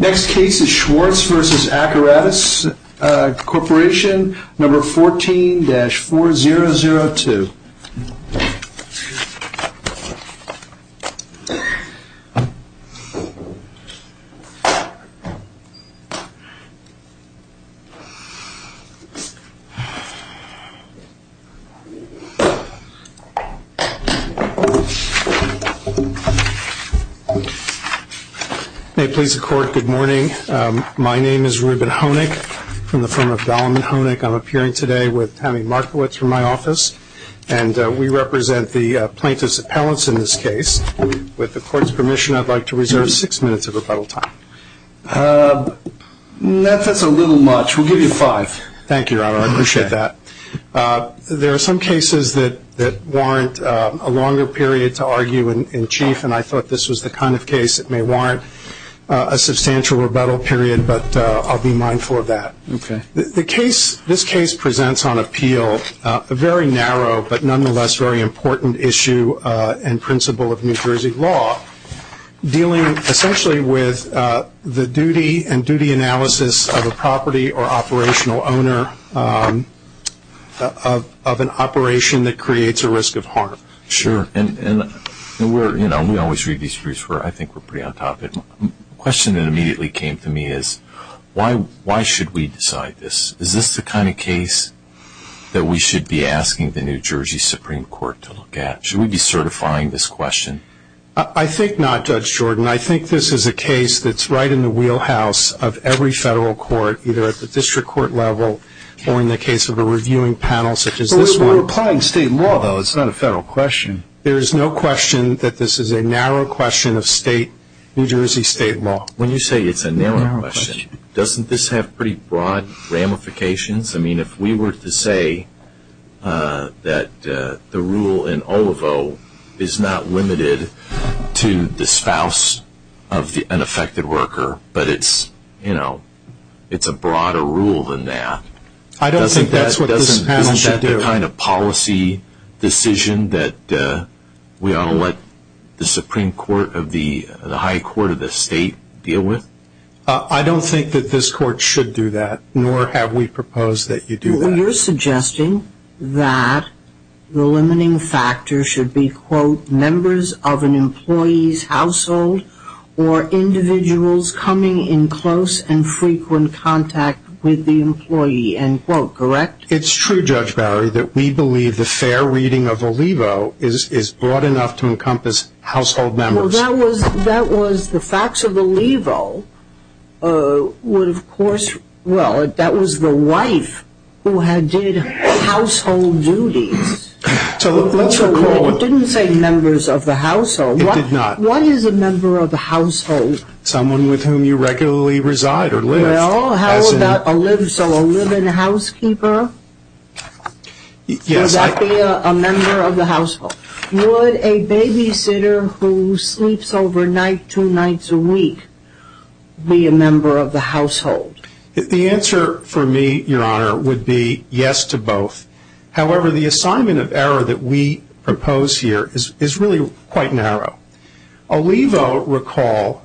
Next case is Schwartz v. Accuratus, Corporation No. 14-4002. May it please the Court, good morning. My name is Reuben Honig from the firm of Dahlman Honig. I'm appearing today with Tammy Markowitz from my office, and we represent the plaintiff's appellants in this case. With the Court's permission, I'd like to reserve six minutes of rebuttal time. That's a little much. We'll give you five. Thank you, Your Honor. I appreciate that. There are some cases that warrant a longer period to argue in chief, and I thought this was the kind of case that may warrant a substantial rebuttal period, but I'll be mindful of that. This case presents on appeal a very narrow but nonetheless very important issue and principle of New Jersey law dealing essentially with the duty and duty analysis of a property or operational owner of an operation that creates a risk of harm. Sure, and we always read these briefs. I think we're pretty on topic. The question that immediately came to me is, why should we decide this? Is this the kind of case that we should be asking the New Jersey Supreme Court to look at? Should we be certifying this question? I think not, Judge Jordan. I think this is a case that's right in the wheelhouse of every federal court, either at the district court level or in the case of a reviewing panel such as this one. We're applying state law, though. It's not a federal question. There is no question that this is a narrow question of New Jersey state law. When you say it's a narrow question, doesn't this have pretty broad ramifications? I mean, if we were to say that the rule in Olivo is not limited to the spouse of an affected worker, but it's a broader rule than that, I don't think that's what this panel should do. Isn't that the kind of policy decision that we ought to let the Supreme Court or the high court of the state deal with? I don't think that this court should do that, nor have we proposed that you do that. You're suggesting that the limiting factor should be, quote, of an employee's household or individuals coming in close and frequent contact with the employee, end quote, correct? It's true, Judge Barry, that we believe the fair reading of Olivo is broad enough to encompass household members. Well, that was the facts of Olivo would, of course, well, that was the wife who did household duties. It didn't say members of the household. It did not. What is a member of the household? Someone with whom you regularly reside or live. Well, how about a live-in housekeeper? Yes. Would that be a member of the household? Would a babysitter who sleeps overnight two nights a week be a member of the household? The answer for me, Your Honor, would be yes to both. However, the assignment of error that we propose here is really quite narrow. Olivo, recall,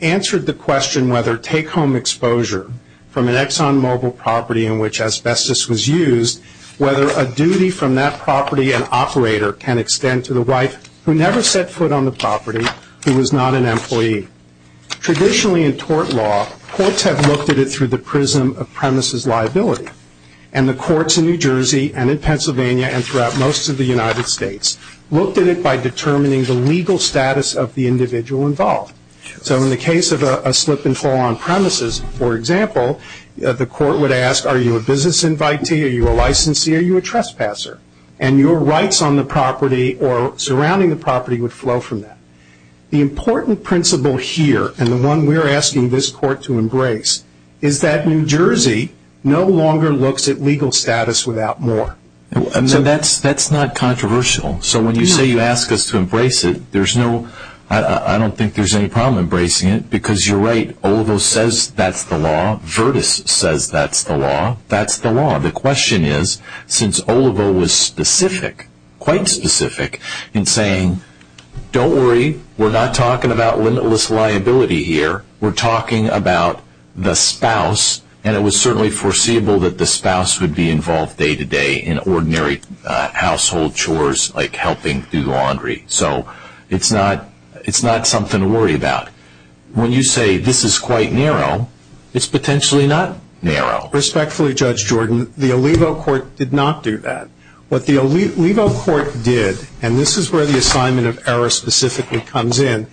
answered the question whether take-home exposure from an ExxonMobil property in which asbestos was used, whether a duty from that property and operator can extend to the wife who never set foot on the property, who was not an employee. Traditionally in tort law, courts have looked at it through the prism of premises liability, and the courts in New Jersey and in Pennsylvania and throughout most of the United States looked at it by determining the legal status of the individual involved. So in the case of a slip-and-fall on premises, for example, the court would ask, are you a business invitee, are you a licensee, are you a trespasser? And your rights on the property or surrounding the property would flow from that. The important principle here, and the one we're asking this court to embrace, is that New Jersey no longer looks at legal status without more. So that's not controversial. So when you say you ask us to embrace it, I don't think there's any problem embracing it because you're right. Olivo says that's the law. Virtus says that's the law. That's the law. The question is, since Olivo was specific, quite specific, in saying, don't worry, we're not talking about limitless liability here, we're talking about the spouse, and it was certainly foreseeable that the spouse would be involved day-to-day in ordinary household chores like helping do laundry. So it's not something to worry about. When you say this is quite narrow, it's potentially not narrow. Respectfully, Judge Jordan, the Olivo court did not do that. What the Olivo court did, and this is where the assignment of error specifically comes in,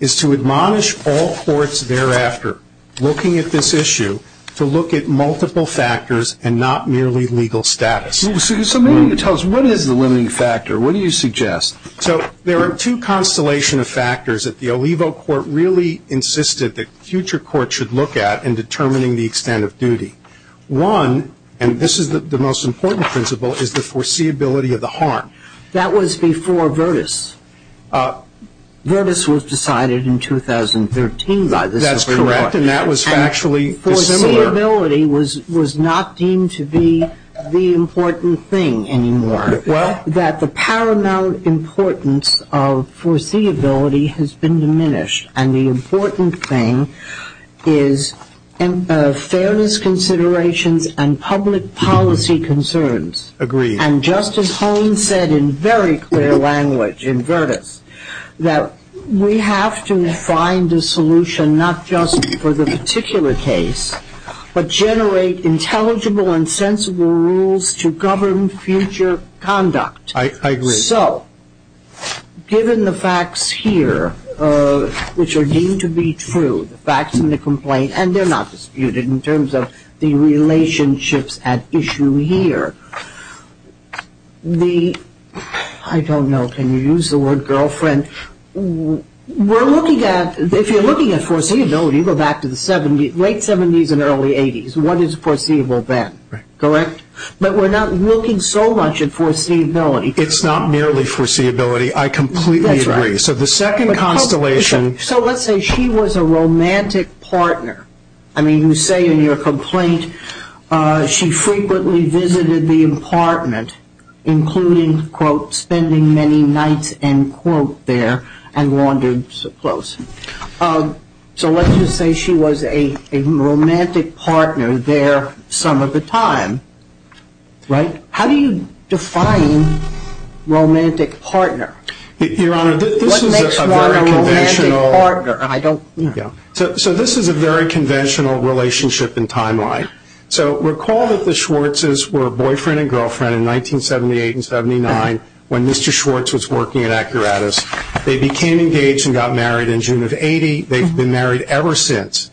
is to admonish all courts thereafter looking at this issue to look at multiple factors and not merely legal status. So maybe you could tell us, what is the limiting factor? What do you suggest? So there are two constellation of factors that the Olivo court really insisted that future courts should look at in determining the extent of duty. One, and this is the most important principle, is the foreseeability of the harm. That was before Virtus. Virtus was decided in 2013 by this court. That's correct, and that was actually dissimilar. And foreseeability was not deemed to be the important thing anymore, that the paramount importance of foreseeability has been diminished, and the important thing is fairness considerations and public policy concerns. Agreed. And Justice Holmes said in very clear language in Virtus that we have to find a solution not just for the particular case, but generate intelligible and sensible rules to govern future conduct. I agree. So given the facts here, which are deemed to be true, the facts in the complaint, and they're not disputed in terms of the relationships at issue here, I don't know, can you use the word girlfriend? If you're looking at foreseeability, go back to the late 70s and early 80s, what is foreseeable then? Correct? But we're not looking so much at foreseeability. It's not merely foreseeability. I completely agree. So the second constellation. So let's say she was a romantic partner. I mean, you say in your complaint she frequently visited the apartment, including, quote, spending many nights, end quote, there and wandered so close. So let's just say she was a romantic partner there some of the time, right? How do you define romantic partner? Your Honor, this is a very conventional. What makes one a romantic partner? So this is a very conventional relationship in timeline. So recall that the Schwartzes were boyfriend and girlfriend in 1978 and 79 when Mr. Schwartz was working at Acuratus. They became engaged and got married in June of 80. They've been married ever since.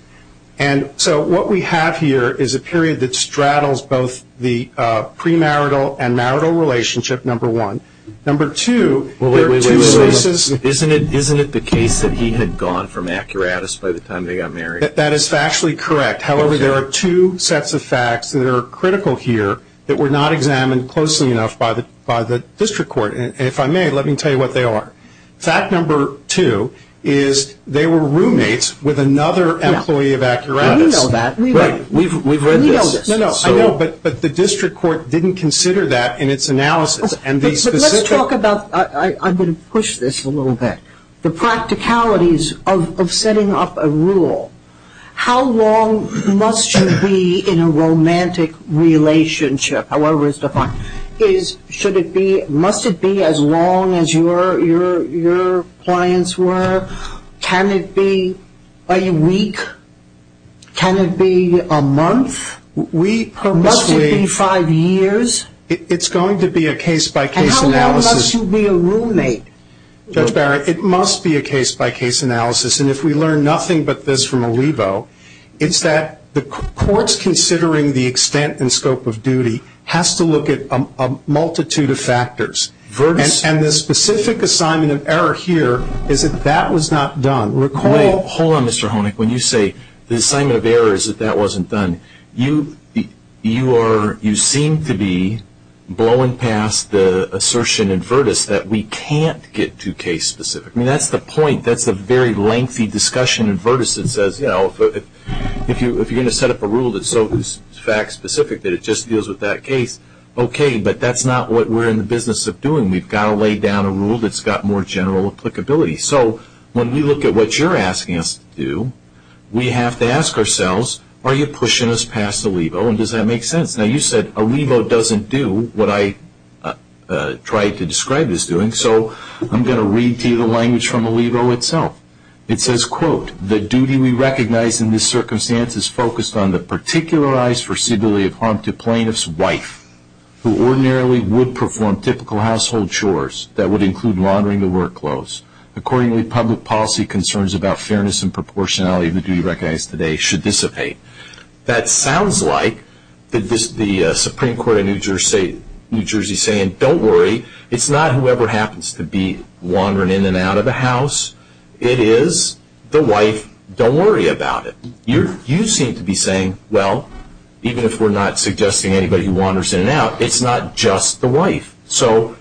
And so what we have here is a period that straddles both the premarital and marital relationship, number one. Number two, there are two sources. Isn't it the case that he had gone from Acuratus by the time they got married? That is factually correct. However, there are two sets of facts that are critical here that were not examined closely enough by the district court. And if I may, let me tell you what they are. Fact number two is they were roommates with another employee of Acuratus. We know that. We've read this. No, no, I know, but the district court didn't consider that in its analysis. But let's talk about, I'm going to push this a little bit, the practicalities of setting up a rule. How long must you be in a romantic relationship? However it's defined. Must it be as long as your clients were? Can it be a week? Can it be a month? Must it be five years? It's going to be a case-by-case analysis. And how long must you be a roommate? Judge Barrett, it must be a case-by-case analysis. And if we learn nothing but this from Olivo, it's that the courts considering the extent and scope of duty has to look at a multitude of factors. And the specific assignment of error here is that that was not done. Wait, hold on, Mr. Honig. When you say the assignment of error is that that wasn't done, you seem to be blowing past the assertion in Vertis that we can't get too case-specific. I mean, that's the point. It's the discussion in Vertis that says, you know, if you're going to set up a rule that's so fact-specific that it just deals with that case, okay, but that's not what we're in the business of doing. We've got to lay down a rule that's got more general applicability. So when we look at what you're asking us to do, we have to ask ourselves, are you pushing us past Olivo, and does that make sense? Now you said Olivo doesn't do what I tried to describe it as doing, so I'm going to read to you the language from Olivo itself. It says, quote, the duty we recognize in this circumstance is focused on the particularized foreseeability of harm to plaintiff's wife, who ordinarily would perform typical household chores that would include laundering the work clothes. Accordingly, public policy concerns about fairness and proportionality of the duty recognized today should dissipate. That sounds like the Supreme Court of New Jersey saying, don't worry, it's not whoever happens to be laundering in and out of the house. It is the wife. Don't worry about it. You seem to be saying, well, even if we're not suggesting anybody who wanders in and out, it's not just the wife. So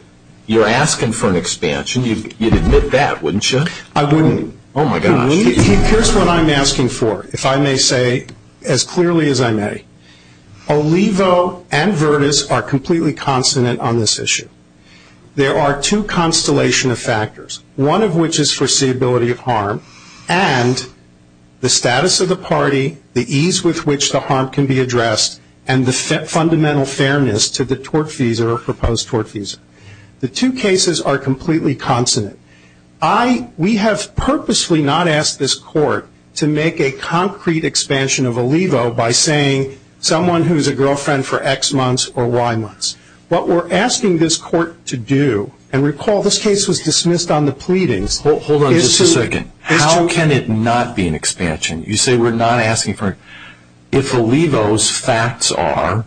you're asking for an expansion. You'd admit that, wouldn't you? I wouldn't. Oh, my gosh. Here's what I'm asking for, if I may say as clearly as I may. Olivo and Virtus are completely consonant on this issue. There are two constellation of factors, one of which is foreseeability of harm and the status of the party, the ease with which the harm can be addressed, and the fundamental fairness to the tort visa or proposed tort visa. The two cases are completely consonant. We have purposely not asked this court to make a concrete expansion of Olivo by saying someone who is a girlfriend for X months or Y months. What we're asking this court to do, and recall this case was dismissed on the pleadings. Hold on just a second. How can it not be an expansion? You say we're not asking for it. If Olivo's facts are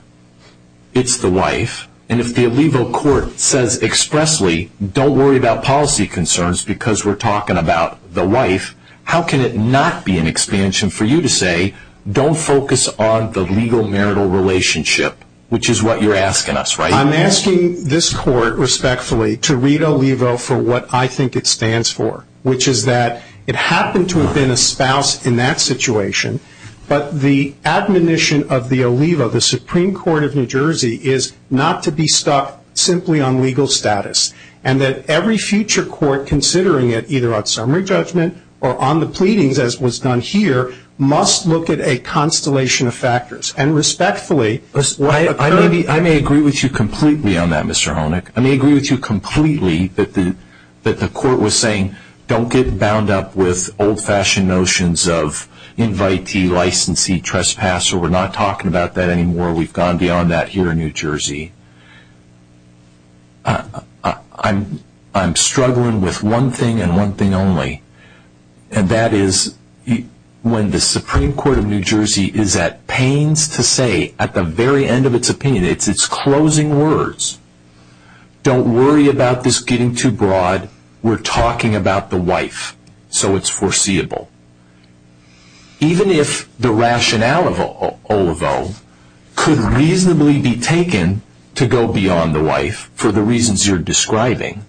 it's the wife, and if the Olivo court says expressly don't worry about policy concerns because we're talking about the wife, how can it not be an expansion for you to say don't focus on the legal marital relationship, which is what you're asking us, right? I'm asking this court, respectfully, to read Olivo for what I think it stands for, which is that it happened to have been a spouse in that situation, but the admonition of the Olivo, the Supreme Court of New Jersey, is not to be stuck simply on legal status and that every future court considering it either on summary judgment or on the pleadings, as was done here, must look at a constellation of factors. I may agree with you completely on that, Mr. Honick. I may agree with you completely that the court was saying don't get bound up with old-fashioned notions of invitee, licensee, trespasser. We're not talking about that anymore. We've gone beyond that here in New Jersey. I'm struggling with one thing and one thing only, and that is when the Supreme Court of New Jersey is at pains to say at the very end of its opinion, its closing words, don't worry about this getting too broad. We're talking about the wife, so it's foreseeable. Even if the rationale of Olivo could reasonably be taken to go beyond the wife for the reasons you're describing,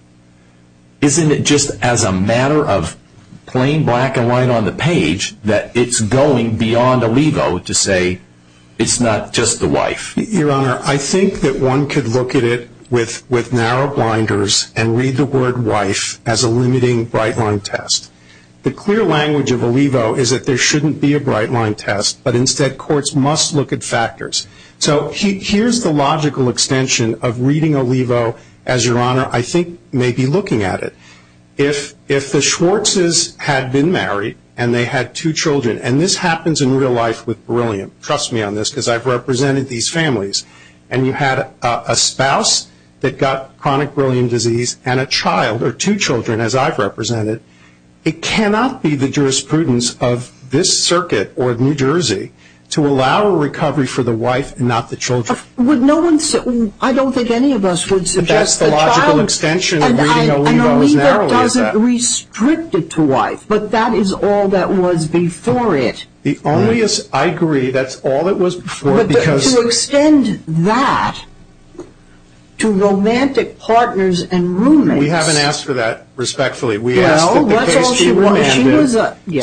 isn't it just as a matter of plain black and white on the page that it's going beyond Olivo to say it's not just the wife? Your Honor, I think that one could look at it with narrow blinders and read the word wife as a limiting bright-line test. The clear language of Olivo is that there shouldn't be a bright-line test, but instead courts must look at factors. So here's the logical extension of reading Olivo as, Your Honor, I think maybe looking at it, if the Schwartzes had been married and they had two children, and this happens in real life with beryllium, trust me on this because I've represented these families, and you had a spouse that got chronic beryllium disease and a child or two children as I've represented, it cannot be the jurisprudence of this circuit or New Jersey to allow a recovery for the wife and not the children. I don't think any of us would suggest that. That's the logical extension of reading Olivo as narrowly as that. And Olivo doesn't restrict it to wife, but that is all that was before it. I agree, that's all that was before it. But to extend that to romantic partners and roommates. We haven't asked for that respectfully. We asked that the case be remanded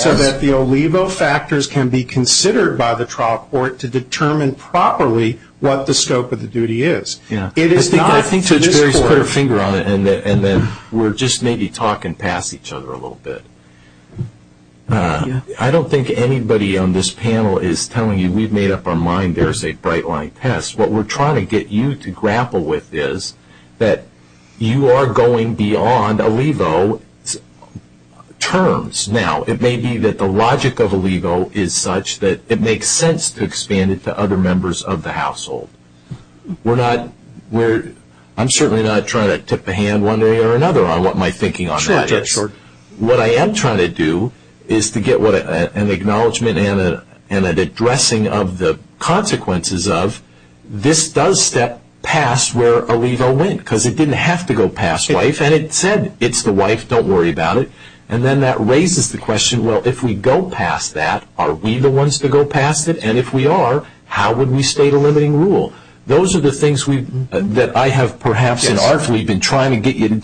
so that the Olivo factors can be considered by the trial court to determine properly what the scope of the duty is. I think Judge Berry's put her finger on it, and then we're just maybe talking past each other a little bit. I don't think anybody on this panel is telling you we've made up our mind there's a bright line test. What we're trying to get you to grapple with is that you are going beyond Olivo terms. Now, it may be that the logic of Olivo is such that it makes sense to expand it to other members of the household. I'm certainly not trying to tip a hand one way or another on what my thinking on that is. What I am trying to do is to get an acknowledgment and an addressing of the consequences of this does step past where Olivo went. Because it didn't have to go past wife, and it said it's the wife, don't worry about it. And then that raises the question, well, if we go past that, are we the ones to go past it? And if we are, how would we state a limiting rule? Those are the things that I have perhaps in our fleet been trying to get you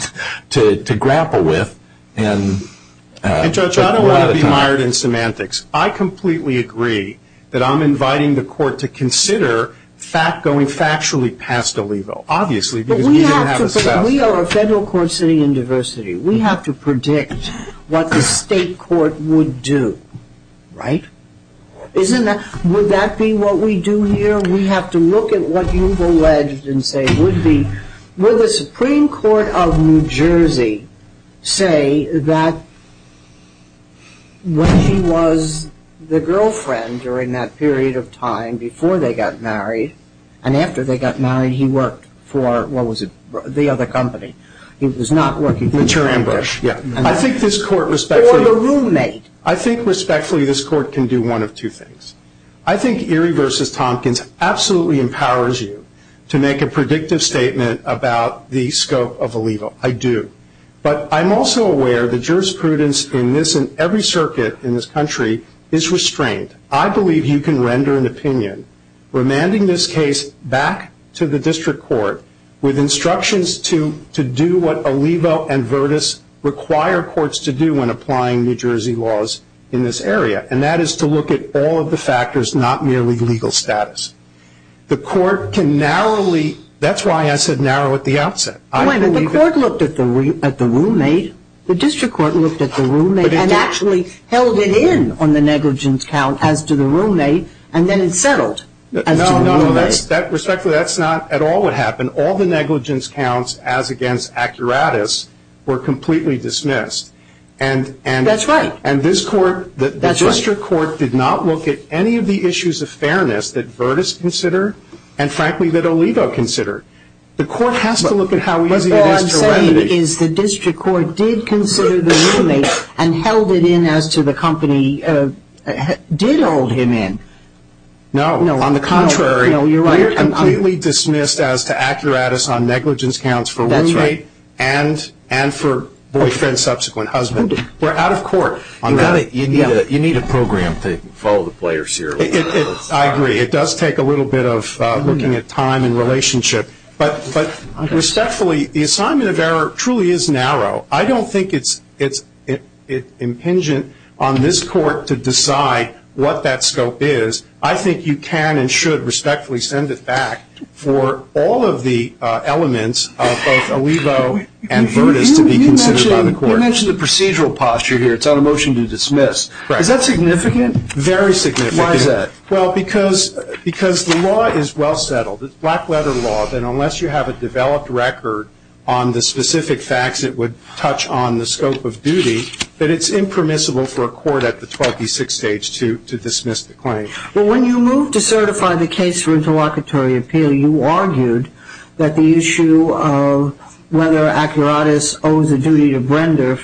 to grapple with. And, Judge, I don't want to be mired in semantics. I completely agree that I'm inviting the court to consider going factually past Olivo, obviously, because we didn't have a self. But we are a federal court sitting in diversity. We have to predict what the state court would do, right? Wouldn't that be what we do here? We have to look at what you've alleged and say would be. Would the Supreme Court of New Jersey say that when he was the girlfriend during that period of time, before they got married and after they got married, he worked for, what was it, the other company? It was not working. Mature ambush. Yeah. I think this court respectfully. Or the roommate. I think respectfully this court can do one of two things. I think Erie v. Tompkins absolutely empowers you to make a predictive statement about the scope of Olivo. I do. But I'm also aware the jurisprudence in this and every circuit in this country is restrained. I believe you can render an opinion remanding this case back to the district court with instructions to do what Olivo and Virtus require courts to do when applying New Jersey laws in this area, and that is to look at all of the factors, not merely legal status. The court can narrowly, that's why I said narrow at the outset. The court looked at the roommate. The district court looked at the roommate and actually held it in on the negligence count as to the roommate and then it settled as to the roommate. No, no. Respectfully, that's not at all what happened. All the negligence counts as against accuratus were completely dismissed. That's right. And this court, the district court, did not look at any of the issues of fairness that Virtus considered and, frankly, that Olivo considered. The court has to look at how easy it is to remedy. What I'm saying is the district court did consider the roommate and held it in as to the company did hold him in. No, on the contrary. No, you're right. We are completely dismissed as to accuratus on negligence counts for roommate and for boyfriend, subsequent husband. We're out of court on that. You need a program to follow the players here. I agree. It does take a little bit of looking at time and relationship. But respectfully, the assignment of error truly is narrow. I don't think it's impingent on this court to decide what that scope is. I think you can and should respectfully send it back for all of the elements of both Olivo and Virtus to be considered by the court. You mentioned the procedural posture here. It's on a motion to dismiss. Is that significant? Very significant. Why is that? Well, because the law is well settled. It's black-letter law. Then unless you have a developed record on the specific facts, it would touch on the scope of duty. But it's impermissible for a court at the 26th stage to dismiss the claim. Well, when you moved to certify the case for interlocutory appeal, you argued that the issue of whether accuratus owes a duty to Brenda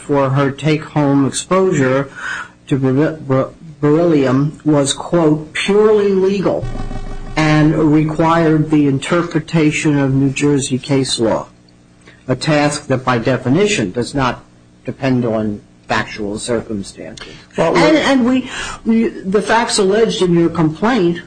and required the interpretation of New Jersey case law, a task that by definition does not depend on factual circumstances. And the facts alleged in your complaint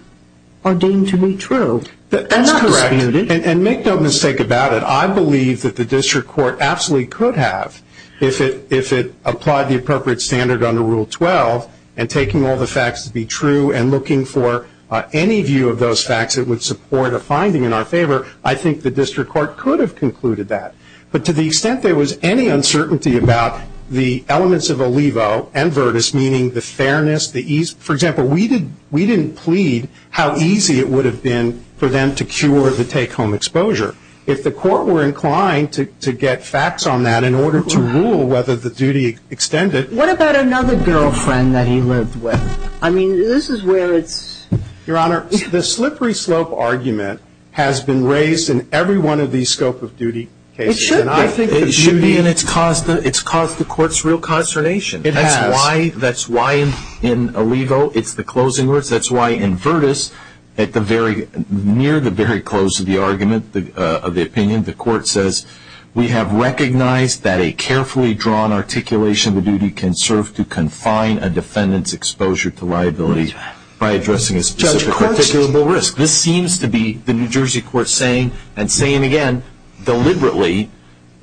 are deemed to be true. They're not disputed. That's correct. And make no mistake about it. I believe that the district court absolutely could have, if it applied the appropriate standard under Rule 12 and taking all the facts to be true and looking for any view of those facts that would support a finding in our favor, I think the district court could have concluded that. But to the extent there was any uncertainty about the elements of Olivo and Virtus, meaning the fairness, the ease. For example, we didn't plead how easy it would have been for them to cure the take-home exposure. If the court were inclined to get facts on that in order to rule whether the duty extended. What about another girlfriend that he lived with? I mean, this is where it's... Your Honor, the slippery slope argument has been raised in every one of these scope of duty cases. It should be. And it's caused the court's real consternation. It has. That's why in Olivo it's the closing words. That's why in Virtus, near the very close of the argument, of the opinion, the court says we have recognized that a carefully drawn articulation of the duty can serve to confine a defendant's exposure to liability by addressing a specific articulable risk. This seems to be the New Jersey court saying, and saying again deliberately,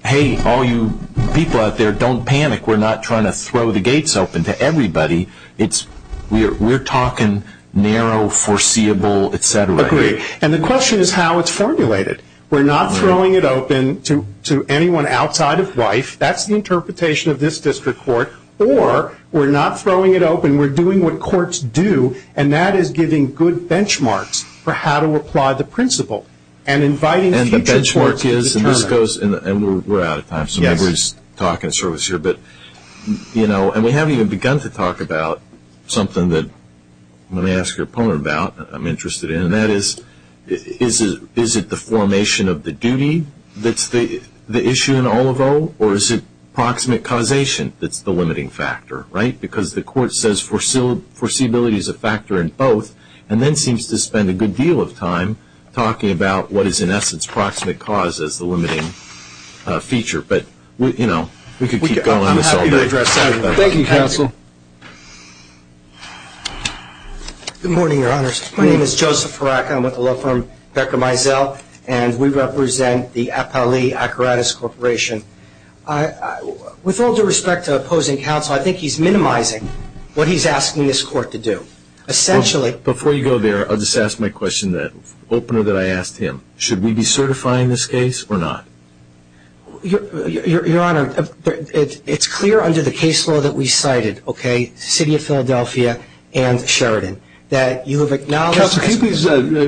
hey, all you people out there, don't panic. We're not trying to throw the gates open to everybody. We're talking narrow, foreseeable, et cetera. Agreed. And the question is how it's formulated. We're not throwing it open to anyone outside of life. That's the interpretation of this district court. Or we're not throwing it open. We're doing what courts do, and that is giving good benchmarks for how to apply the principle and inviting future courts to determine. And the benchmark is, and this goes, and we're out of time, so maybe we'll just talk in service here. But, you know, and we haven't even begun to talk about something that I'm going to ask your opponent about that I'm interested in, and that is, is it the formation of the duty that's the issue in all of O, or is it proximate causation that's the limiting factor, right? Because the court says foreseeability is a factor in both, and then seems to spend a good deal of time talking about what is, in essence, proximate cause as the limiting feature. But, you know, we could keep going on this all day. Thank you, counsel. Good morning, Your Honors. My name is Joseph Farakka. I'm with the law firm Becker Mizell, and we represent the Apali Akaratis Corporation. With all due respect to opposing counsel, I think he's minimizing what he's asking this court to do. Essentially ---- Before you go there, I'll just ask my question, the opener that I asked him. Should we be certifying this case or not? Your Honor, it's clear under the case law that we cited. Okay? City of Philadelphia and Sheridan. That you have acknowledged ---- Counselor, can you please,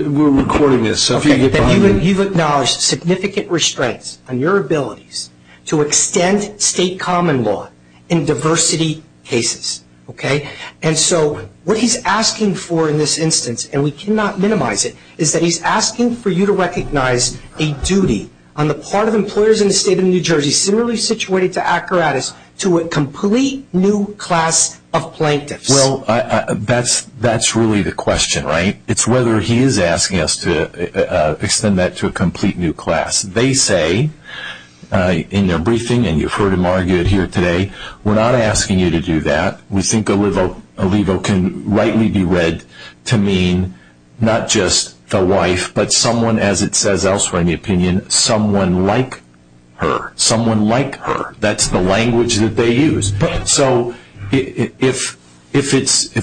we're recording this. You've acknowledged significant restraints on your abilities to extend state common law in diversity cases. Okay? And so what he's asking for in this instance, and we cannot minimize it, is that he's asking for you to recognize a duty on the part of employers in the state of New Jersey, similarly situated to Akaratis, to a complete new class of plaintiffs. Well, that's really the question, right? It's whether he is asking us to extend that to a complete new class. They say in their briefing, and you've heard him argue it here today, we're not asking you to do that. We think Alivo can rightly be read to mean not just the wife, but someone, as it says elsewhere in the opinion, someone like her. Someone like her. That's the language that they use. So if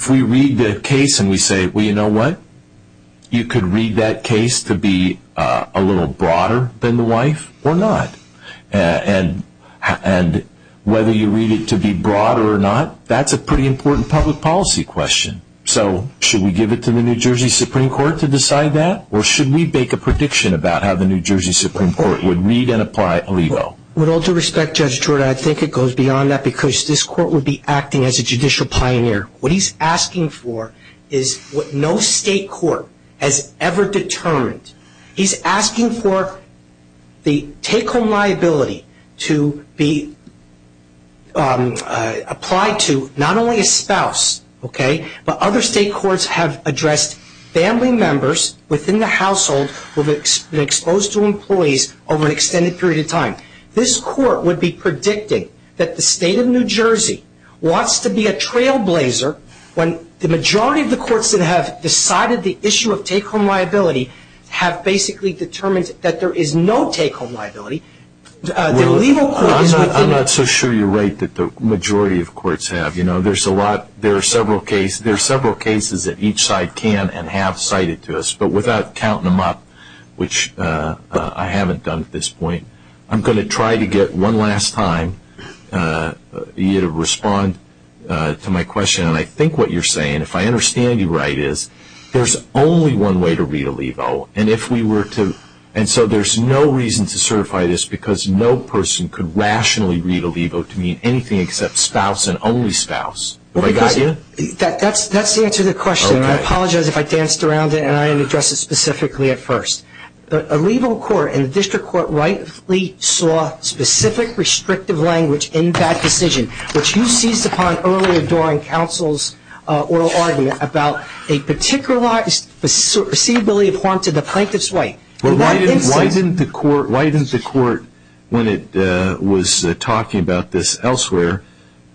we read the case and we say, well, you know what? You could read that case to be a little broader than the wife or not. And whether you read it to be broader or not, that's a pretty important public policy question. So should we give it to the New Jersey Supreme Court to decide that? Or should we make a prediction about how the New Jersey Supreme Court would read and apply Alivo? With all due respect, Judge Jordan, I think it goes beyond that because this court would be acting as a judicial pioneer. What he's asking for is what no state court has ever determined. He's asking for the take-home liability to be applied to not only a spouse, okay, but other state courts have addressed family members within the household who have been exposed to employees over an extended period of time. This court would be predicting that the state of New Jersey wants to be a trailblazer when the majority of the courts that have decided the issue of take-home liability have basically determined that there is no take-home liability. The Alivo court is within the- I'm not so sure you're right that the majority of courts have. There are several cases that each side can and have cited to us, but without counting them up, which I haven't done at this point, I'm going to try to get one last time you to respond to my question. And I think what you're saying, if I understand you right, is there's only one way to read Alivo. And so there's no reason to certify this because no person could rationally read Alivo to mean anything except spouse and only spouse. Have I got you? That's the answer to the question. I apologize if I danced around it and I didn't address it specifically at first. The Alivo court and the district court rightly saw specific restrictive language in that decision, which you seized upon earlier during counsel's oral argument about a particularized receivability of harm to the plaintiff's right. Why didn't the court, when it was talking about this elsewhere,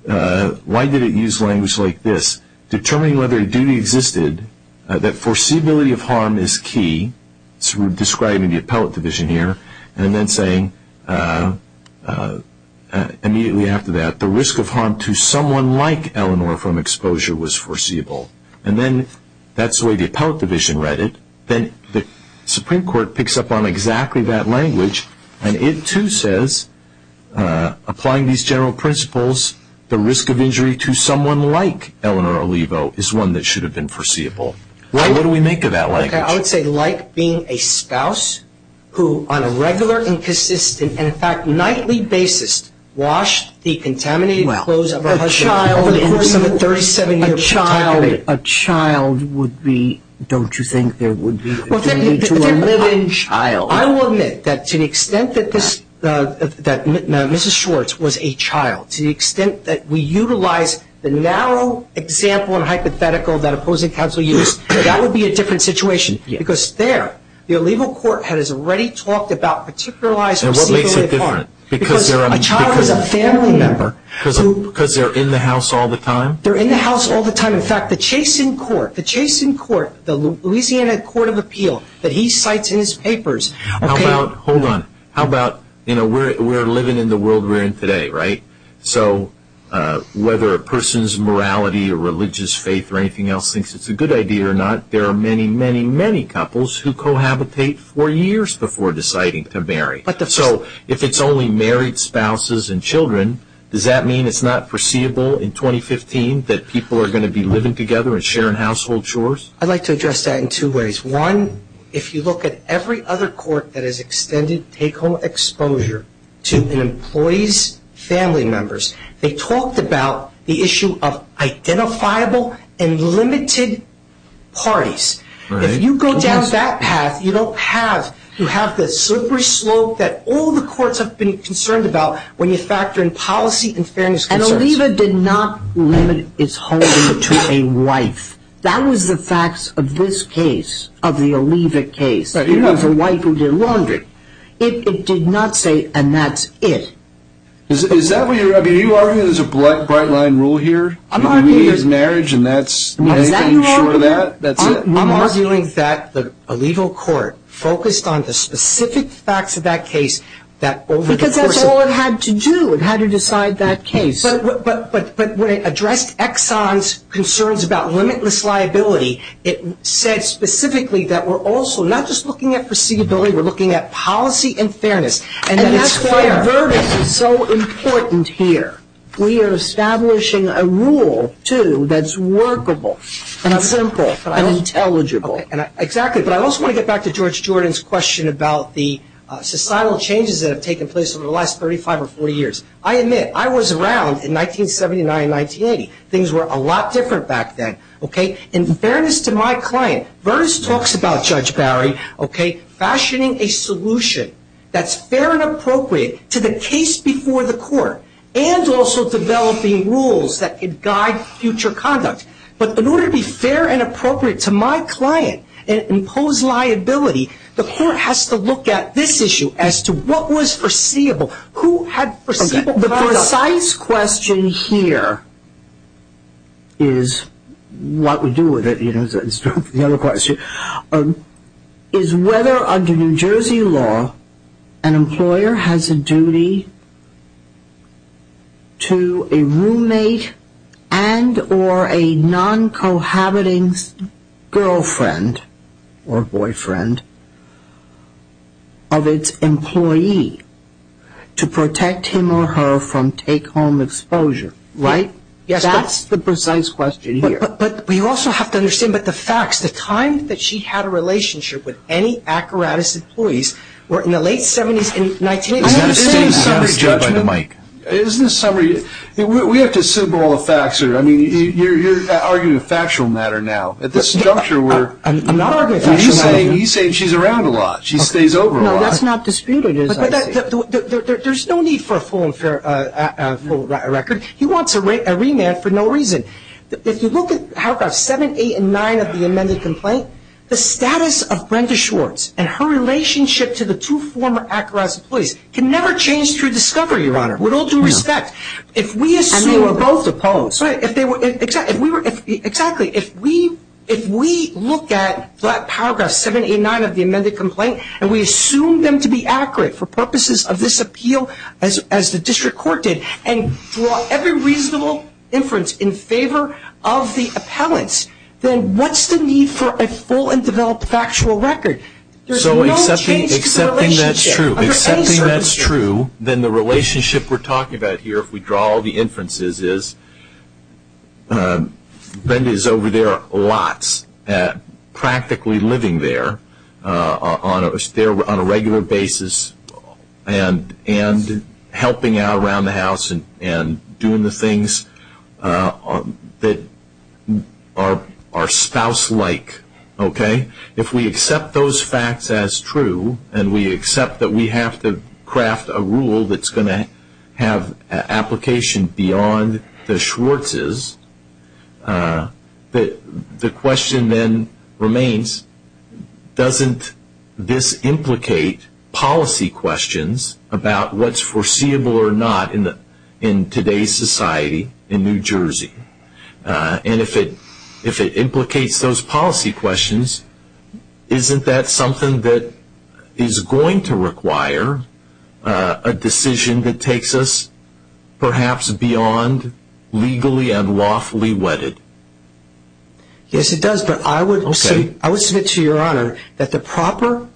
why did it use language like this? Determining whether a duty existed, that foreseeability of harm is key. So we're describing the appellate division here and then saying immediately after that, the risk of harm to someone like Eleanor from exposure was foreseeable. And then that's the way the appellate division read it. Then the Supreme Court picks up on exactly that language and it too says, applying these general principles, the risk of injury to someone like Eleanor Alivo is one that should have been foreseeable. What do we make of that language? I would say like being a spouse who on a regular, inconsistent, and in fact nightly basis, washed the contaminated clothes of her husband. A child would be, don't you think there would be a need to a live-in child? I will admit that to the extent that Mrs. Schwartz was a child, to the extent that we utilize the narrow example and hypothetical that opposing counsel used, that would be a different situation. Because there, the Alivo court has already talked about particularized receivability of harm. Because a child is a family member. Because they're in the house all the time. They're in the house all the time. In fact, the Chasen court, the Chasen court, the Louisiana court of appeal that he cites in his papers. How about, hold on, how about, you know, we're living in the world we're in today, right? So whether a person's morality or religious faith or anything else thinks it's a good idea or not, there are many, many, many couples who cohabitate for years before deciding to marry. So if it's only married spouses and children, does that mean it's not foreseeable in 2015 that people are going to be living together and sharing household chores? I'd like to address that in two ways. One, if you look at every other court that has extended take-home exposure to an employee's family members, they talked about the issue of identifiable and limited parties. If you go down that path, you don't have the slippery slope that all the courts have been concerned about when you factor in policy and fairness concerns. And Oliva did not limit its holding to a wife. That was the facts of this case, of the Oliva case. It was a wife who did laundry. It did not say, and that's it. Is that what you're arguing? Are you arguing there's a bright line rule here? I'm arguing that the Oliva court focused on the specific facts of that case. Because that's all it had to do. It had to decide that case. But when it addressed Exxon's concerns about limitless liability, it said specifically that we're also not just looking at foreseeability, we're looking at policy and fairness. And that's why verdicts are so important here. We are establishing a rule, too, that's workable and simple and intelligible. Exactly. But I also want to get back to George Jordan's question about the societal changes that have taken place over the last 35 or 40 years. I admit, I was around in 1979 and 1980. Things were a lot different back then. In fairness to my client, Vernis talks about Judge Barry fashioning a solution that's fair and appropriate to the case before the court and also developing rules that could guide future conduct. But in order to be fair and appropriate to my client and impose liability, the court has to look at this issue as to what was foreseeable, who had foreseeable conduct. The precise question here is what we do with it. The other question is whether under New Jersey law an employer has a duty to a roommate and or a non-cohabiting girlfriend or boyfriend of its employee to protect him or her from take-home exposure. Right? Yes. That's the precise question here. But we also have to understand the facts. The time that she had a relationship with any Akaratis employees were in the late 70s and 1980s. Isn't this summary judgment? Isn't this summary? We have to assemble all the facts here. I mean, you're arguing a factual matter now. At this juncture, we're... I'm not arguing a factual matter. He's saying she's around a lot. She stays over a lot. No, that's not disputed. There's no need for a full record. He wants a remand for no reason. If you look at paragraphs 7, 8, and 9 of the amended complaint, the status of Brenda Schwartz and her relationship to the two former Akaratis employees can never change through discovery, Your Honor. With all due respect, if we assume... And they were both opposed. Exactly. If we look at paragraphs 7, 8, and 9 of the amended complaint and we assume them to be accurate for purposes of this appeal, as the district court did, and draw every reasonable inference in favor of the appellants, then what's the need for a full and developed factual record? There's no change to the relationship. So accepting that's true, then the relationship we're talking about here, if we draw all the inferences, is Brenda is over there lots practically living there on a regular basis and helping out around the house and doing the things that are spouse-like, okay? If we accept those facts as true and we accept that we have to craft a rule that's going to have application beyond the Schwartz's, the question then remains, doesn't this implicate policy questions about what's foreseeable or not in today's society in New Jersey? And if it implicates those policy questions, isn't that something that is going to require a decision that takes us perhaps beyond legally and lawfully wedded? Yes, it does, but I would submit to Your Honor that the proper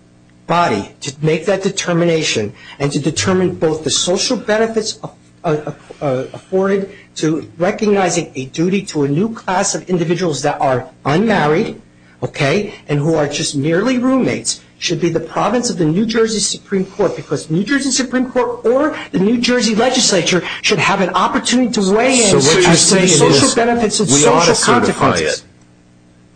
body to make that determination and to determine both the social benefits afforded to recognizing a duty to a new class of individuals that are unmarried, okay, and who are just merely roommates, should be the province of the New Jersey Supreme Court because New Jersey Supreme Court or the New Jersey legislature should have an opportunity to weigh in and say social benefits and social consequences. So what you're saying is we ought to certify it.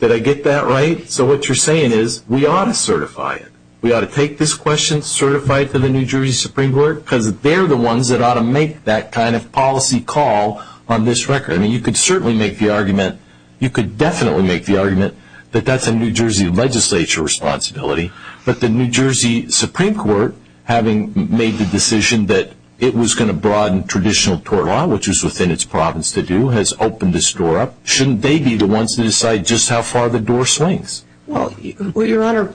Did I get that right? So what you're saying is we ought to certify it. We ought to take this question, certify it for the New Jersey Supreme Court, because they're the ones that ought to make that kind of policy call on this record. I mean, you could certainly make the argument, you could definitely make the argument, that that's a New Jersey legislature responsibility, but the New Jersey Supreme Court, having made the decision that it was going to broaden traditional tort law, which was within its province to do, has opened this door up. Shouldn't they be the ones to decide just how far the door swings? Well, Your Honor,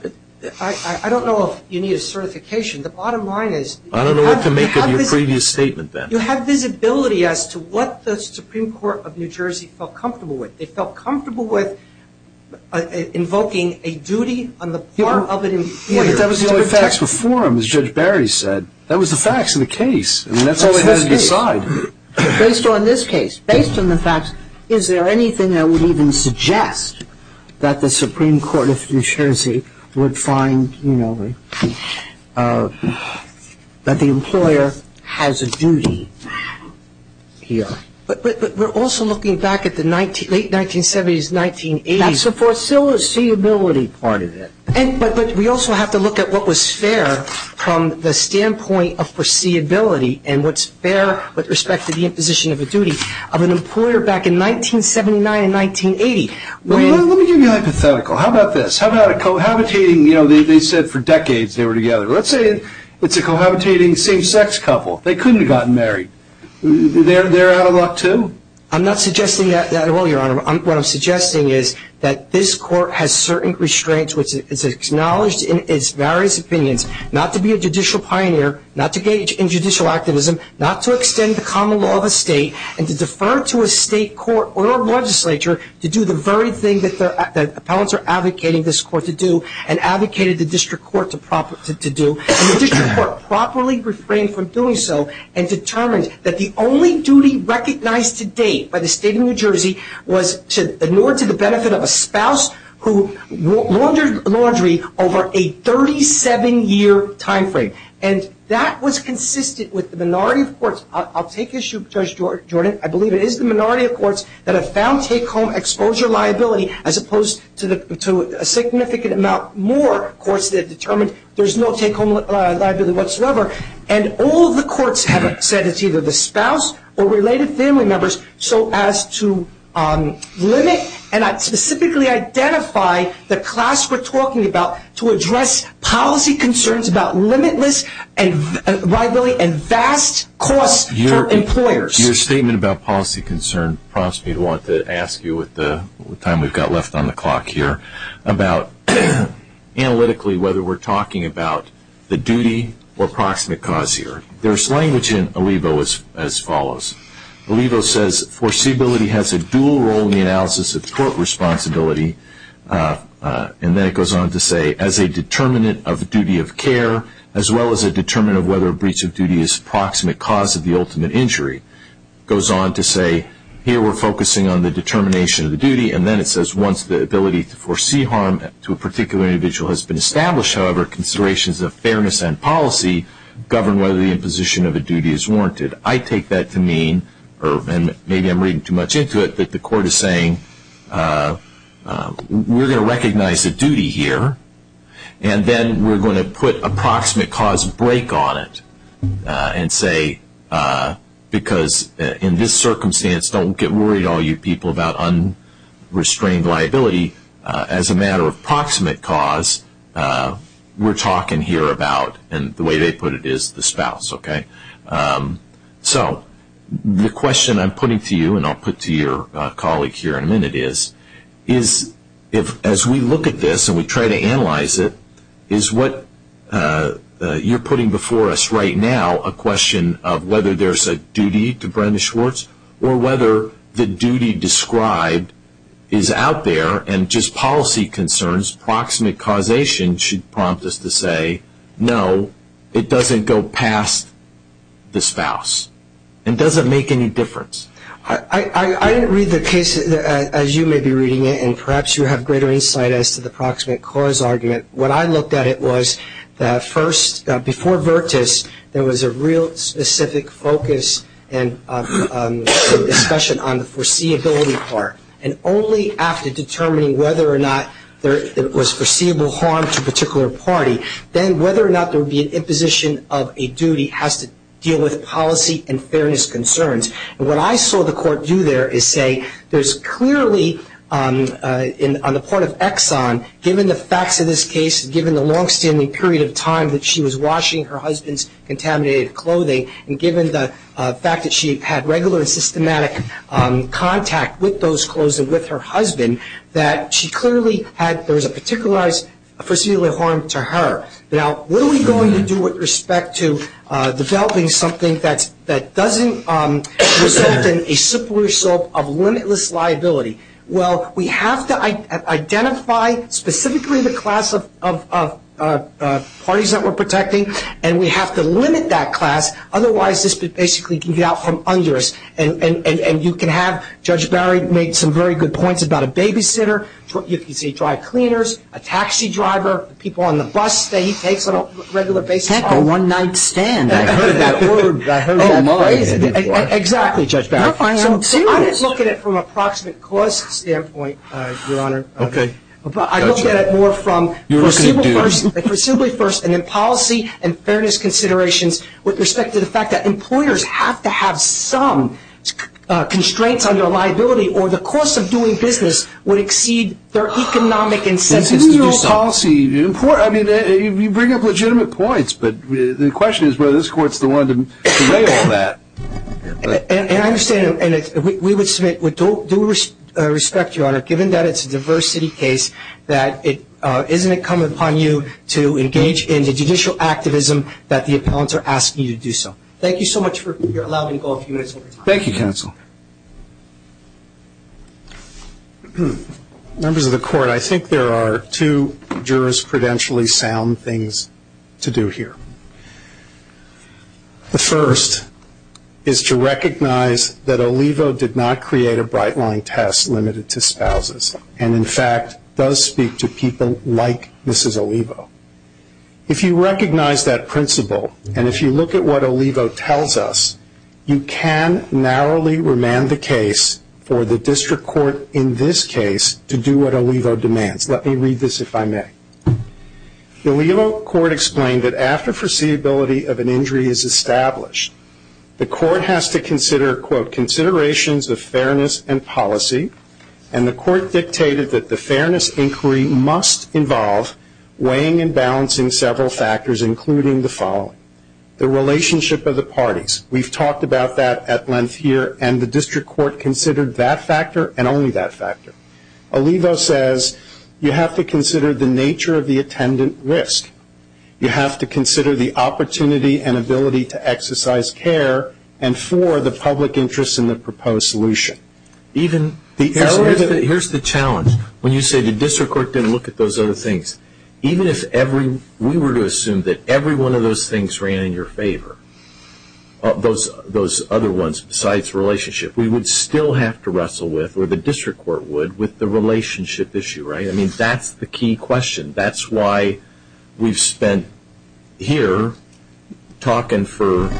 I don't know if you need a certification. The bottom line is you have visibility. I don't know what to make of your previous statement then. You have visibility as to what the Supreme Court of New Jersey felt comfortable with. They felt comfortable with invoking a duty on the part of an employer. But that was the only facts before him, as Judge Barry said. That was the facts of the case, and that's all they had to decide. Based on this case, based on the facts, is there anything that would even suggest that the Supreme Court of New Jersey would find, you know, that the employer has a duty here? But we're also looking back at the late 1970s, 1980s. That's the foreseeability part of it. But we also have to look at what was fair from the standpoint of foreseeability and what's fair with respect to the imposition of a duty of an employer back in 1979 and 1980. Well, let me give you a hypothetical. How about this? How about a cohabitating, you know, they said for decades they were together. Let's say it's a cohabitating same-sex couple. They couldn't have gotten married. They're out of luck too? I'm not suggesting that at all, Your Honor. What I'm suggesting is that this Court has certain restraints, which is acknowledged in its various opinions, not to be a judicial pioneer, not to engage in judicial activism, not to extend the common law of a state, and to defer to a state court or a legislature to do the very thing that the appellants are advocating this court to do and advocated the district court to do. And the district court properly refrained from doing so and determined that the only duty recognized to date by the state of New Jersey was in order to the benefit of a spouse who laundered laundry over a 37-year time frame. And that was consistent with the minority of courts. I'll take issue, Judge Jordan. I believe it is the minority of courts that have found take-home exposure liability as opposed to a significant amount more courts that have determined there's no take-home liability whatsoever. And all of the courts have said it's either the spouse or related family members, so as to limit and specifically identify the class we're talking about to address policy concerns about limitless liability and vast costs for employers. Your statement about policy concern prompts me to want to ask you with the time we've got left on the clock here about analytically whether we're talking about the duty or proximate cause here. There's language in Alivo as follows. Alivo says foreseeability has a dual role in the analysis of court responsibility. And then it goes on to say as a determinant of duty of care as well as a determinant of whether a breach of duty is a proximate cause of the ultimate injury. It goes on to say here we're focusing on the determination of the duty and then it says once the ability to foresee harm to a particular individual has been established, however, considerations of fairness and policy govern whether the imposition of a duty is warranted. I take that to mean, or maybe I'm reading too much into it, that the court is saying we're going to recognize a duty here and then we're going to put a proximate cause break on it and say because in this circumstance don't get worried all you people about unrestrained liability. As a matter of proximate cause, we're talking here about, and the way they put it, is the spouse. So the question I'm putting to you, and I'll put to your colleague here in a minute, is as we look at this and we try to analyze it, is what you're putting before us right now a question of whether there's a duty to Brenda Schwartz or whether the duty described is out there and just policy concerns, proximate causation should prompt us to say, no, it doesn't go past the spouse and doesn't make any difference. I didn't read the case as you may be reading it and perhaps you have greater insight as to the proximate cause argument. What I looked at it was that first, before Virtus, there was a real specific focus and discussion on the foreseeability part and only after determining whether or not there was foreseeable harm to a particular party, then whether or not there would be an imposition of a duty has to deal with policy and fairness concerns. What I saw the court do there is say there's clearly, on the part of Exxon, given the facts of this case, given the longstanding period of time that she was washing her husband's contaminated clothing, and given the fact that she had regular and systematic contact with those clothes and with her husband, that she clearly had, there was a particularized foreseeable harm to her. Now, what are we going to do with respect to developing something that doesn't result in a simple result of limitless liability? Well, we have to identify specifically the class of parties that we're protecting and we have to limit that class. Otherwise, this basically can get out from under us. And you can have Judge Barry make some very good points about a babysitter. You can see dry cleaners, a taxi driver, people on the bus that he takes on a regular basis. A one-night stand. I heard that word. I heard that phrase. Exactly, Judge Barry. So I didn't look at it from a proximate cause standpoint, Your Honor. Okay. But I looked at it more from foreseeable first and then policy and fairness considerations with respect to the fact that employers have to have some constraints on their liability or the cost of doing business would exceed their economic incentives to do something. But even your own policy, I mean, you bring up legitimate points, but the question is whether this Court's the one to weigh all that. And I understand, and we would submit with due respect, Your Honor, given that it's a diversity case, that isn't it incumbent upon you to engage in the judicial activism that the appellants are asking you to do so? Thank you so much for allowing me to go a few minutes over time. Thank you, counsel. Members of the Court, I think there are two jurisprudentially sound things to do here. The first is to recognize that Olivo did not create a bright line test limited to spouses and, in fact, does speak to people like Mrs. Olivo. If you recognize that principle and if you look at what Olivo tells us, you can narrowly remand the case for the District Court in this case to do what Olivo demands. Let me read this, if I may. The Olivo Court explained that after foreseeability of an injury is established, the Court has to consider, quote, considerations of fairness and policy, and the Court dictated that the fairness inquiry must involve weighing and balancing several factors, including the following, the relationship of the parties. We've talked about that at length here, and the District Court considered that factor and only that factor. Olivo says you have to consider the nature of the attendant risk. You have to consider the opportunity and ability to exercise care and for the public interest in the proposed solution. Here's the challenge. When you say the District Court didn't look at those other things, even if we were to assume that every one of those things ran in your favor, those other ones besides relationship, we would still have to wrestle with, or the District Court would, with the relationship issue, right? I mean, that's the key question. That's why we've spent here talking for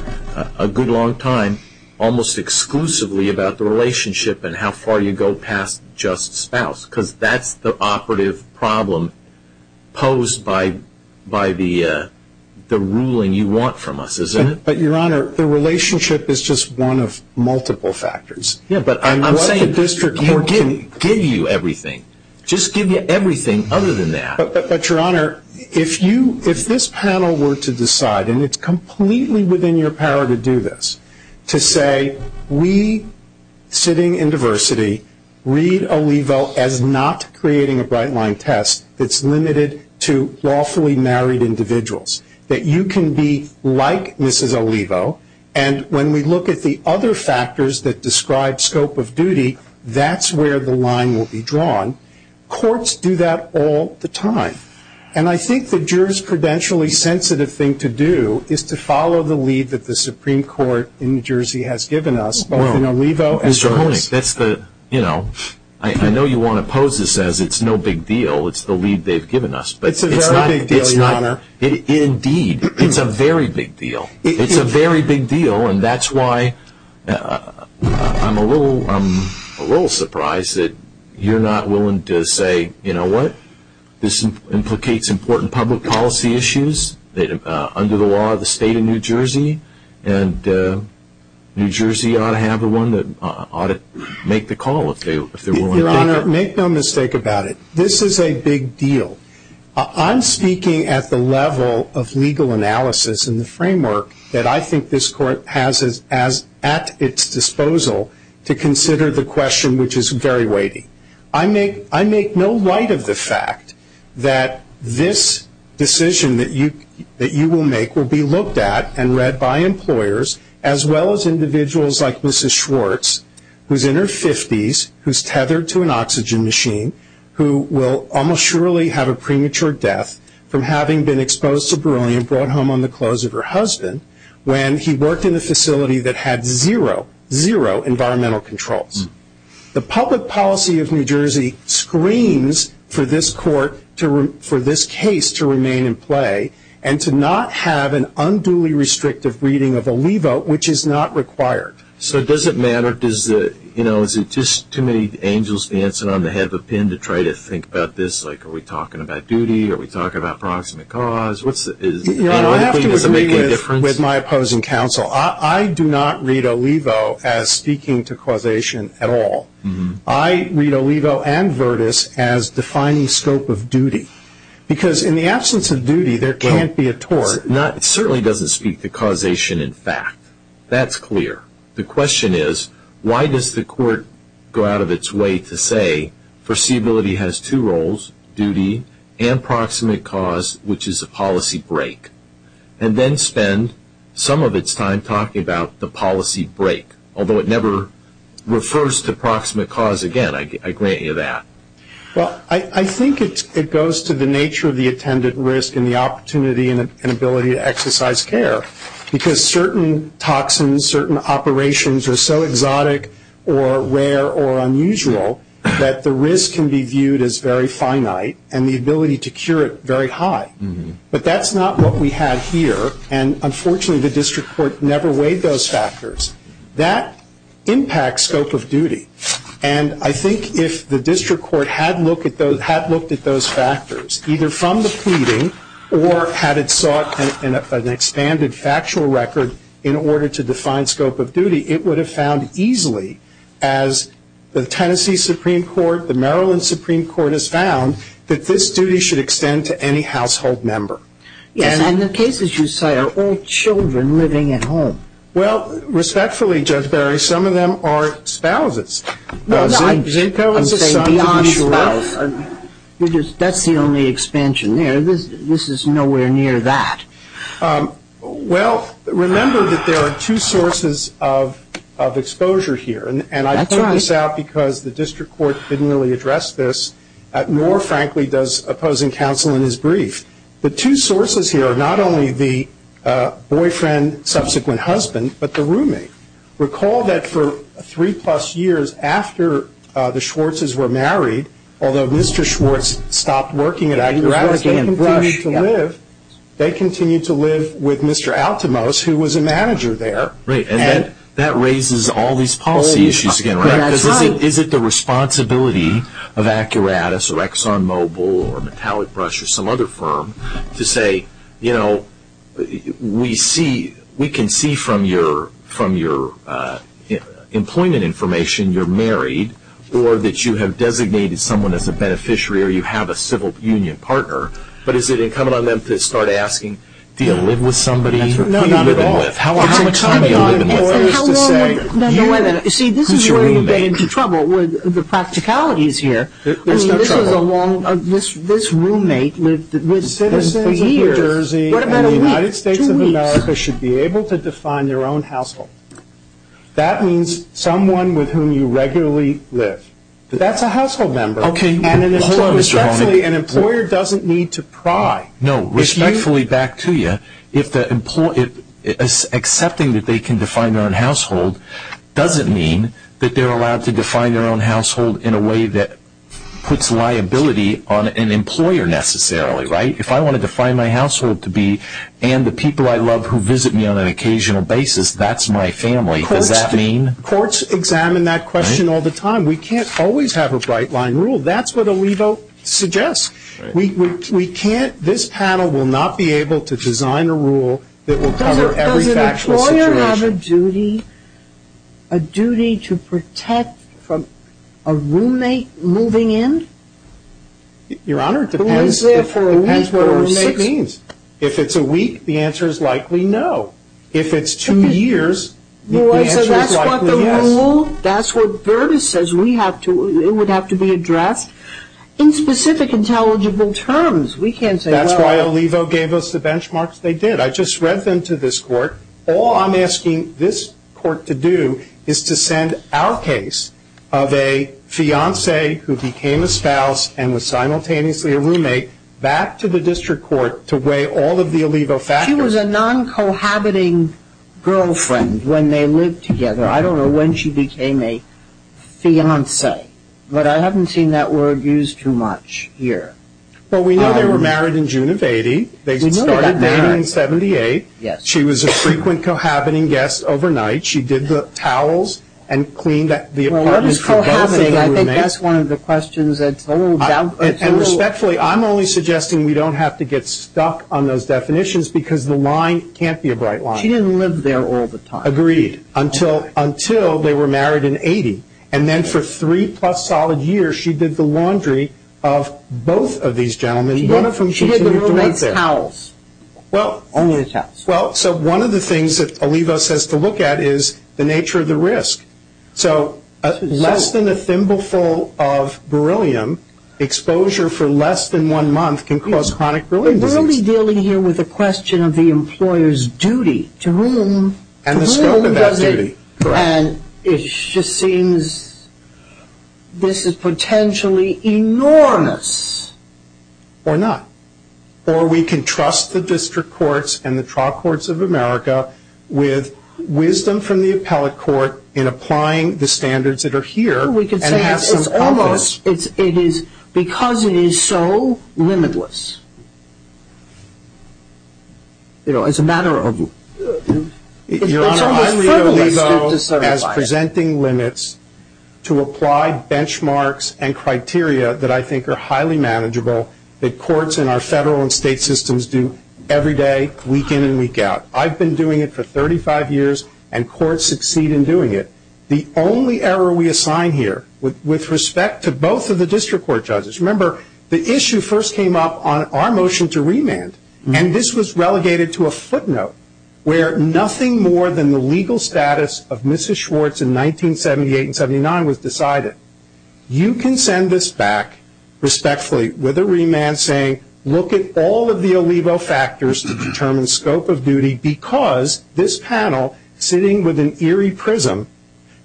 a good long time almost exclusively about the relationship and how far you go past just spouse, because that's the operative problem posed by the ruling you want from us, isn't it? But, Your Honor, the relationship is just one of multiple factors. Yeah, but I'm saying the District Court can give you everything. Just give you everything other than that. But, Your Honor, if this panel were to decide, and it's completely within your power to do this, to say we, sitting in diversity, read Olivo as not creating a bright-line test that's limited to lawfully married individuals, that you can be like Mrs. Olivo, and when we look at the other factors that describe scope of duty, that's where the line will be drawn. Courts do that all the time. And I think the jurisprudentially sensitive thing to do is to follow the lead that the Supreme Court in New Jersey has given us, both in Olivo as well as... Mr. Honig, that's the, you know, I know you want to pose this as it's no big deal. It's the lead they've given us. It's a very big deal, Your Honor. Indeed, it's a very big deal. It's a very big deal, and that's why I'm a little surprised that you're not willing to say, you know what, this implicates important public policy issues under the law of the state of New Jersey, and New Jersey ought to have the one that ought to make the call if they're willing to take it. Your Honor, make no mistake about it. This is a big deal. I'm speaking at the level of legal analysis and the framework that I think this court has at its disposal to consider the question which is very weighty. I make no light of the fact that this decision that you will make will be looked at and read by employers as well as individuals like Mrs. Schwartz, who's in her 50s, who's tethered to an oxygen machine, who will almost surely have a premature death from having been exposed to beryllium, brought home on the clothes of her husband, when he worked in a facility that had zero, zero environmental controls. The public policy of New Jersey screams for this court, for this case to remain in play and to not have an unduly restrictive reading of Olivo, which is not required. So does it matter? Is it just too many angels dancing on the head of a pin to try to think about this? Are we talking about duty? Are we talking about proximate cause? Your Honor, I have to agree with my opposing counsel. I do not read Olivo as speaking to causation at all. I read Olivo and Virtus as defining scope of duty, because in the absence of duty, there can't be a tort. It certainly doesn't speak to causation in fact. That's clear. The question is, why does the court go out of its way to say foreseeability has two roles, duty and proximate cause, which is a policy break, and then spend some of its time talking about the policy break, although it never refers to proximate cause again. I grant you that. Well, I think it goes to the nature of the attendant risk and the opportunity and ability to exercise care, because certain toxins, certain operations are so exotic or rare or unusual that the risk can be viewed as very finite and the ability to cure it very high. But that's not what we have here, and unfortunately the district court never weighed those factors. That impacts scope of duty. And I think if the district court had looked at those factors, either from the pleading or had it sought an expanded factual record in order to define scope of duty, it would have found easily, as the Tennessee Supreme Court, the Maryland Supreme Court has found, that this duty should extend to any household member. Yes, and the cases you cite are all children living at home. Well, respectfully, Judge Barry, some of them are spouses. I'm saying beyond spouse. That's the only expansion there. This is nowhere near that. Well, remember that there are two sources of exposure here, and I put this out because the district court didn't really address this, nor, frankly, does opposing counsel in his brief. The two sources here are not only the boyfriend, subsequent husband, but the roommate. Recall that for three-plus years after the Schwartzes were married, although Mr. Schwartz stopped working at Accuratus, they continued to live with Mr. Altimos, who was a manager there. Right, and that raises all these policy issues again, right? Is it the responsibility of Accuratus or ExxonMobil or Metallic Brush or some other firm to say, you know, we can see from your employment information you're married or that you have designated someone as a beneficiary or you have a civil union partner, but is it incumbent on them to start asking, do you live with somebody? No, not at all. How much time are you living with? See, this is where you get into trouble with the practicalities here. I mean, this roommate lived with citizens for years. What about a week, two weeks? The United States of America should be able to define their own household. That means someone with whom you regularly live. That's a household member. Okay. And an employer doesn't need to pry. No, respectfully back to you, accepting that they can define their own household doesn't mean that they're allowed to define their own household in a way that puts liability on an employer necessarily, right? If I want to define my household to be and the people I love who visit me on an occasional basis, that's my family. Does that mean? Courts examine that question all the time. We can't always have a bright line rule. That's what Alivo suggests. We can't, this panel will not be able to design a rule that will cover every factual situation. Does the employer have a duty, a duty to protect from a roommate moving in? Your Honor, it depends. Who is there for a week or six? It depends what a roommate means. If it's a week, the answer is likely no. If it's two years, the answer is likely yes. So that's what the rule, that's what Burtis says we have to, it would have to be addressed in specific intelligible terms. We can't say well. That's why Alivo gave us the benchmarks they did. I just read them to this court. All I'm asking this court to do is to send our case of a fiancé who became a spouse and was simultaneously a roommate back to the district court to weigh all of the Alivo factors. She was a non-cohabiting girlfriend when they lived together. I don't know when she became a fiancé, but I haven't seen that word used too much here. Well, we know they were married in June of 1980. They started dating in 1978. Yes. She was a frequent cohabiting guest overnight. She did the towels and cleaned the apartment for both of the roommates. Well, what is cohabiting? I think that's one of the questions that's a little doubtful. And respectfully, I'm only suggesting we don't have to get stuck on those definitions because the line can't be a bright line. She didn't live there all the time. Agreed. Until they were married in 1980. And then for three-plus solid years, she did the laundry of both of these gentlemen, and one of them she did the roommate's towels. Only the towels. Well, so one of the things that Alivo says to look at is the nature of the risk. So less than a thimbleful of beryllium exposure for less than one month can cause chronic beryllium disease. We're only dealing here with a question of the employer's duty. To whom? And the scope of that duty. And it just seems this is potentially enormous. Or not. Or we can trust the district courts and the trial courts of America with wisdom from the appellate court in applying the standards that are here. We could say it's almost because it is so limitless. You know, as a matter of ---- Your Honor, I read Alivo as presenting limits to apply benchmarks and criteria that I think are highly manageable, that courts in our federal and state systems do every day, week in and week out. I've been doing it for 35 years, and courts succeed in doing it. The only error we assign here, with respect to both of the district court judges, remember the issue first came up on our motion to remand, and this was relegated to a footnote where nothing more than the legal status of Mrs. Schwartz in 1978 and 79 was decided. You can send this back respectfully with a remand saying, look at all of the Alivo factors to determine scope of duty because this panel, sitting with an eerie prism,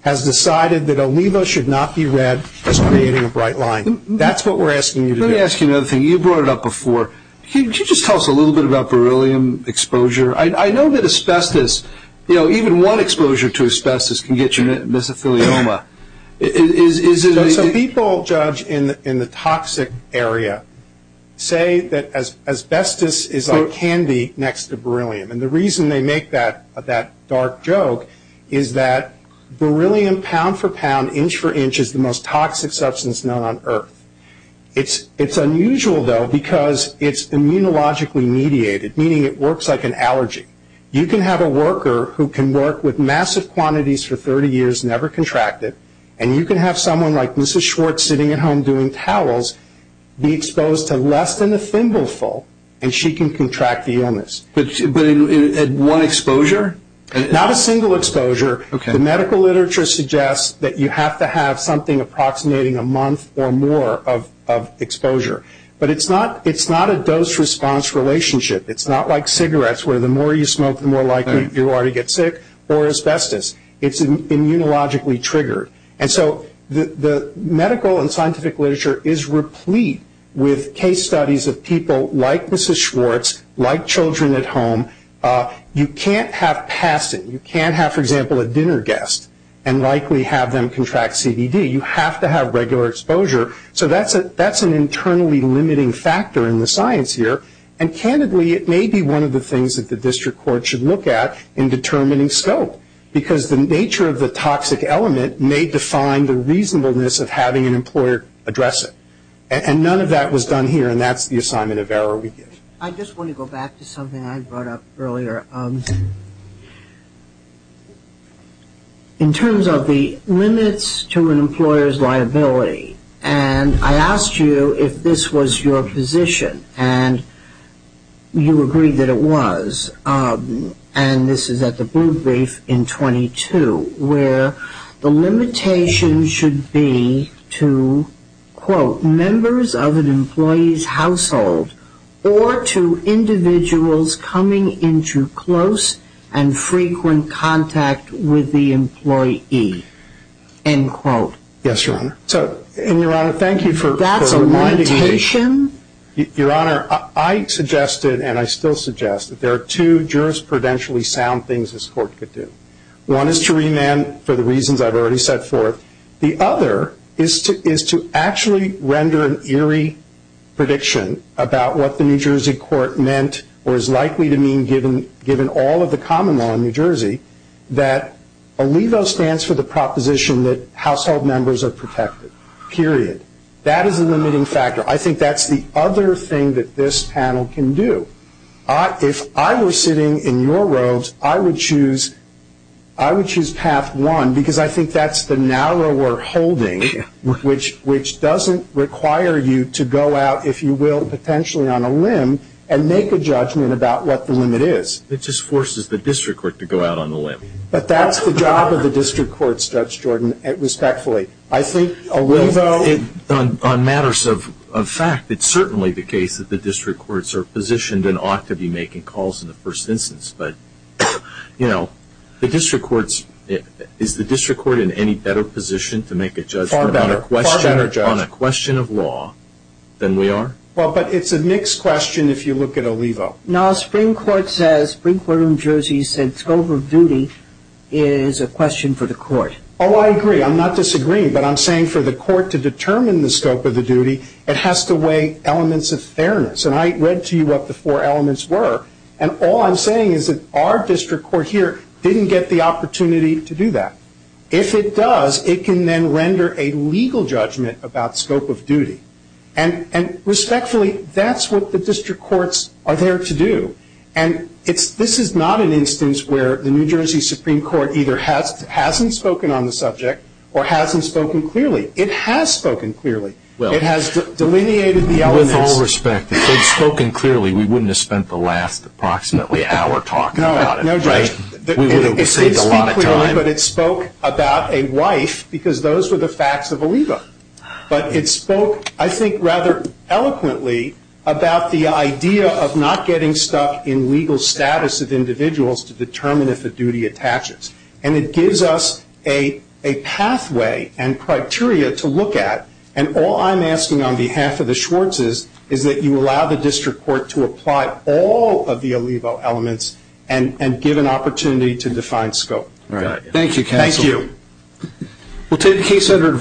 has decided that Alivo should not be read as creating a bright line. That's what we're asking you to do. Let me ask you another thing. You brought it up before. Could you just tell us a little bit about beryllium exposure? I know that asbestos, you know, even one exposure to asbestos can get you mesothelioma. So people, Judge, in the toxic area say that asbestos is like candy next to beryllium, and the reason they make that dark joke is that beryllium, pound for pound, inch for inch, is the most toxic substance known on earth. It's unusual, though, because it's immunologically mediated, meaning it works like an allergy. You can have a worker who can work with massive quantities for 30 years, never contract it, and you can have someone like Mrs. Schwartz sitting at home doing towels be exposed to less than a thimbleful, and she can contract the illness. But at one exposure? Not a single exposure. The medical literature suggests that you have to have something approximating a month or more of exposure. But it's not a dose-response relationship. It's not like cigarettes where the more you smoke, the more likely you are to get sick, or asbestos. It's immunologically triggered. And so the medical and scientific literature is replete with case studies of people like Mrs. Schwartz, like children at home. You can't have passing. You can't have, for example, a dinner guest and likely have them contract CBD. You have to have regular exposure. So that's an internally limiting factor in the science here. And candidly, it may be one of the things that the district court should look at in determining scope, because the nature of the toxic element may define the reasonableness of having an employer address it. And none of that was done here, and that's the assignment of error we give. I just want to go back to something I brought up earlier. In terms of the limits to an employer's liability, and I asked you if this was your position, and you agreed that it was, and this is at the Blue Brief in 22, where the limitation should be to, quote, members of an employee's household or to individuals coming into close and frequent contact with the employee, end quote. Yes, Your Honor. And, Your Honor, thank you for reminding me. That's a limitation? Your Honor, I suggested, and I still suggest, that there are two jurisprudentially sound things this court could do. One is to remand for the reasons I've already set forth. The other is to actually render an eerie prediction about what the New Jersey court meant or is likely to mean given all of the common law in New Jersey, that ALEVO stands for the proposition that household members are protected, period. That is a limiting factor. I think that's the other thing that this panel can do. If I were sitting in your robes, I would choose path one, because I think that's the narrower holding, which doesn't require you to go out, if you will, potentially on a limb and make a judgment about what the limit is. It just forces the district court to go out on the limb. But that's the job of the district courts, Judge Jordan, respectfully. I think ALEVO. On matters of fact, it's certainly the case that the district courts are positioned and ought to be making calls in the first instance. But, you know, the district courts, is the district court in any better position to make a judgment on a question of law than we are? Well, but it's a mixed question if you look at ALEVO. Now, Spring Court says, Spring Court of New Jersey said, scope of duty is a question for the court. Oh, I agree. I'm not disagreeing, but I'm saying for the court to determine the scope of the duty, it has to weigh elements of fairness. And I read to you what the four elements were, and all I'm saying is that our district court here didn't get the opportunity to do that. If it does, it can then render a legal judgment about scope of duty. And respectfully, that's what the district courts are there to do. And this is not an instance where the New Jersey Supreme Court either hasn't spoken on the subject or hasn't spoken clearly. It has spoken clearly. It has delineated the elements. With all respect, if it had spoken clearly, we wouldn't have spent the last approximately hour talking about it, right? We would have saved a lot of time. It did speak clearly, but it spoke about a wife because those were the facts of ALEVO. But it spoke, I think, rather eloquently about the idea of not getting stuck in legal status of individuals to determine if a duty attaches. And it gives us a pathway and criteria to look at. And all I'm asking on behalf of the Schwartzes is that you allow the district court to apply all of the ALEVO elements and give an opportunity to define scope. Thank you, counsel. Thank you. We'll take a case under...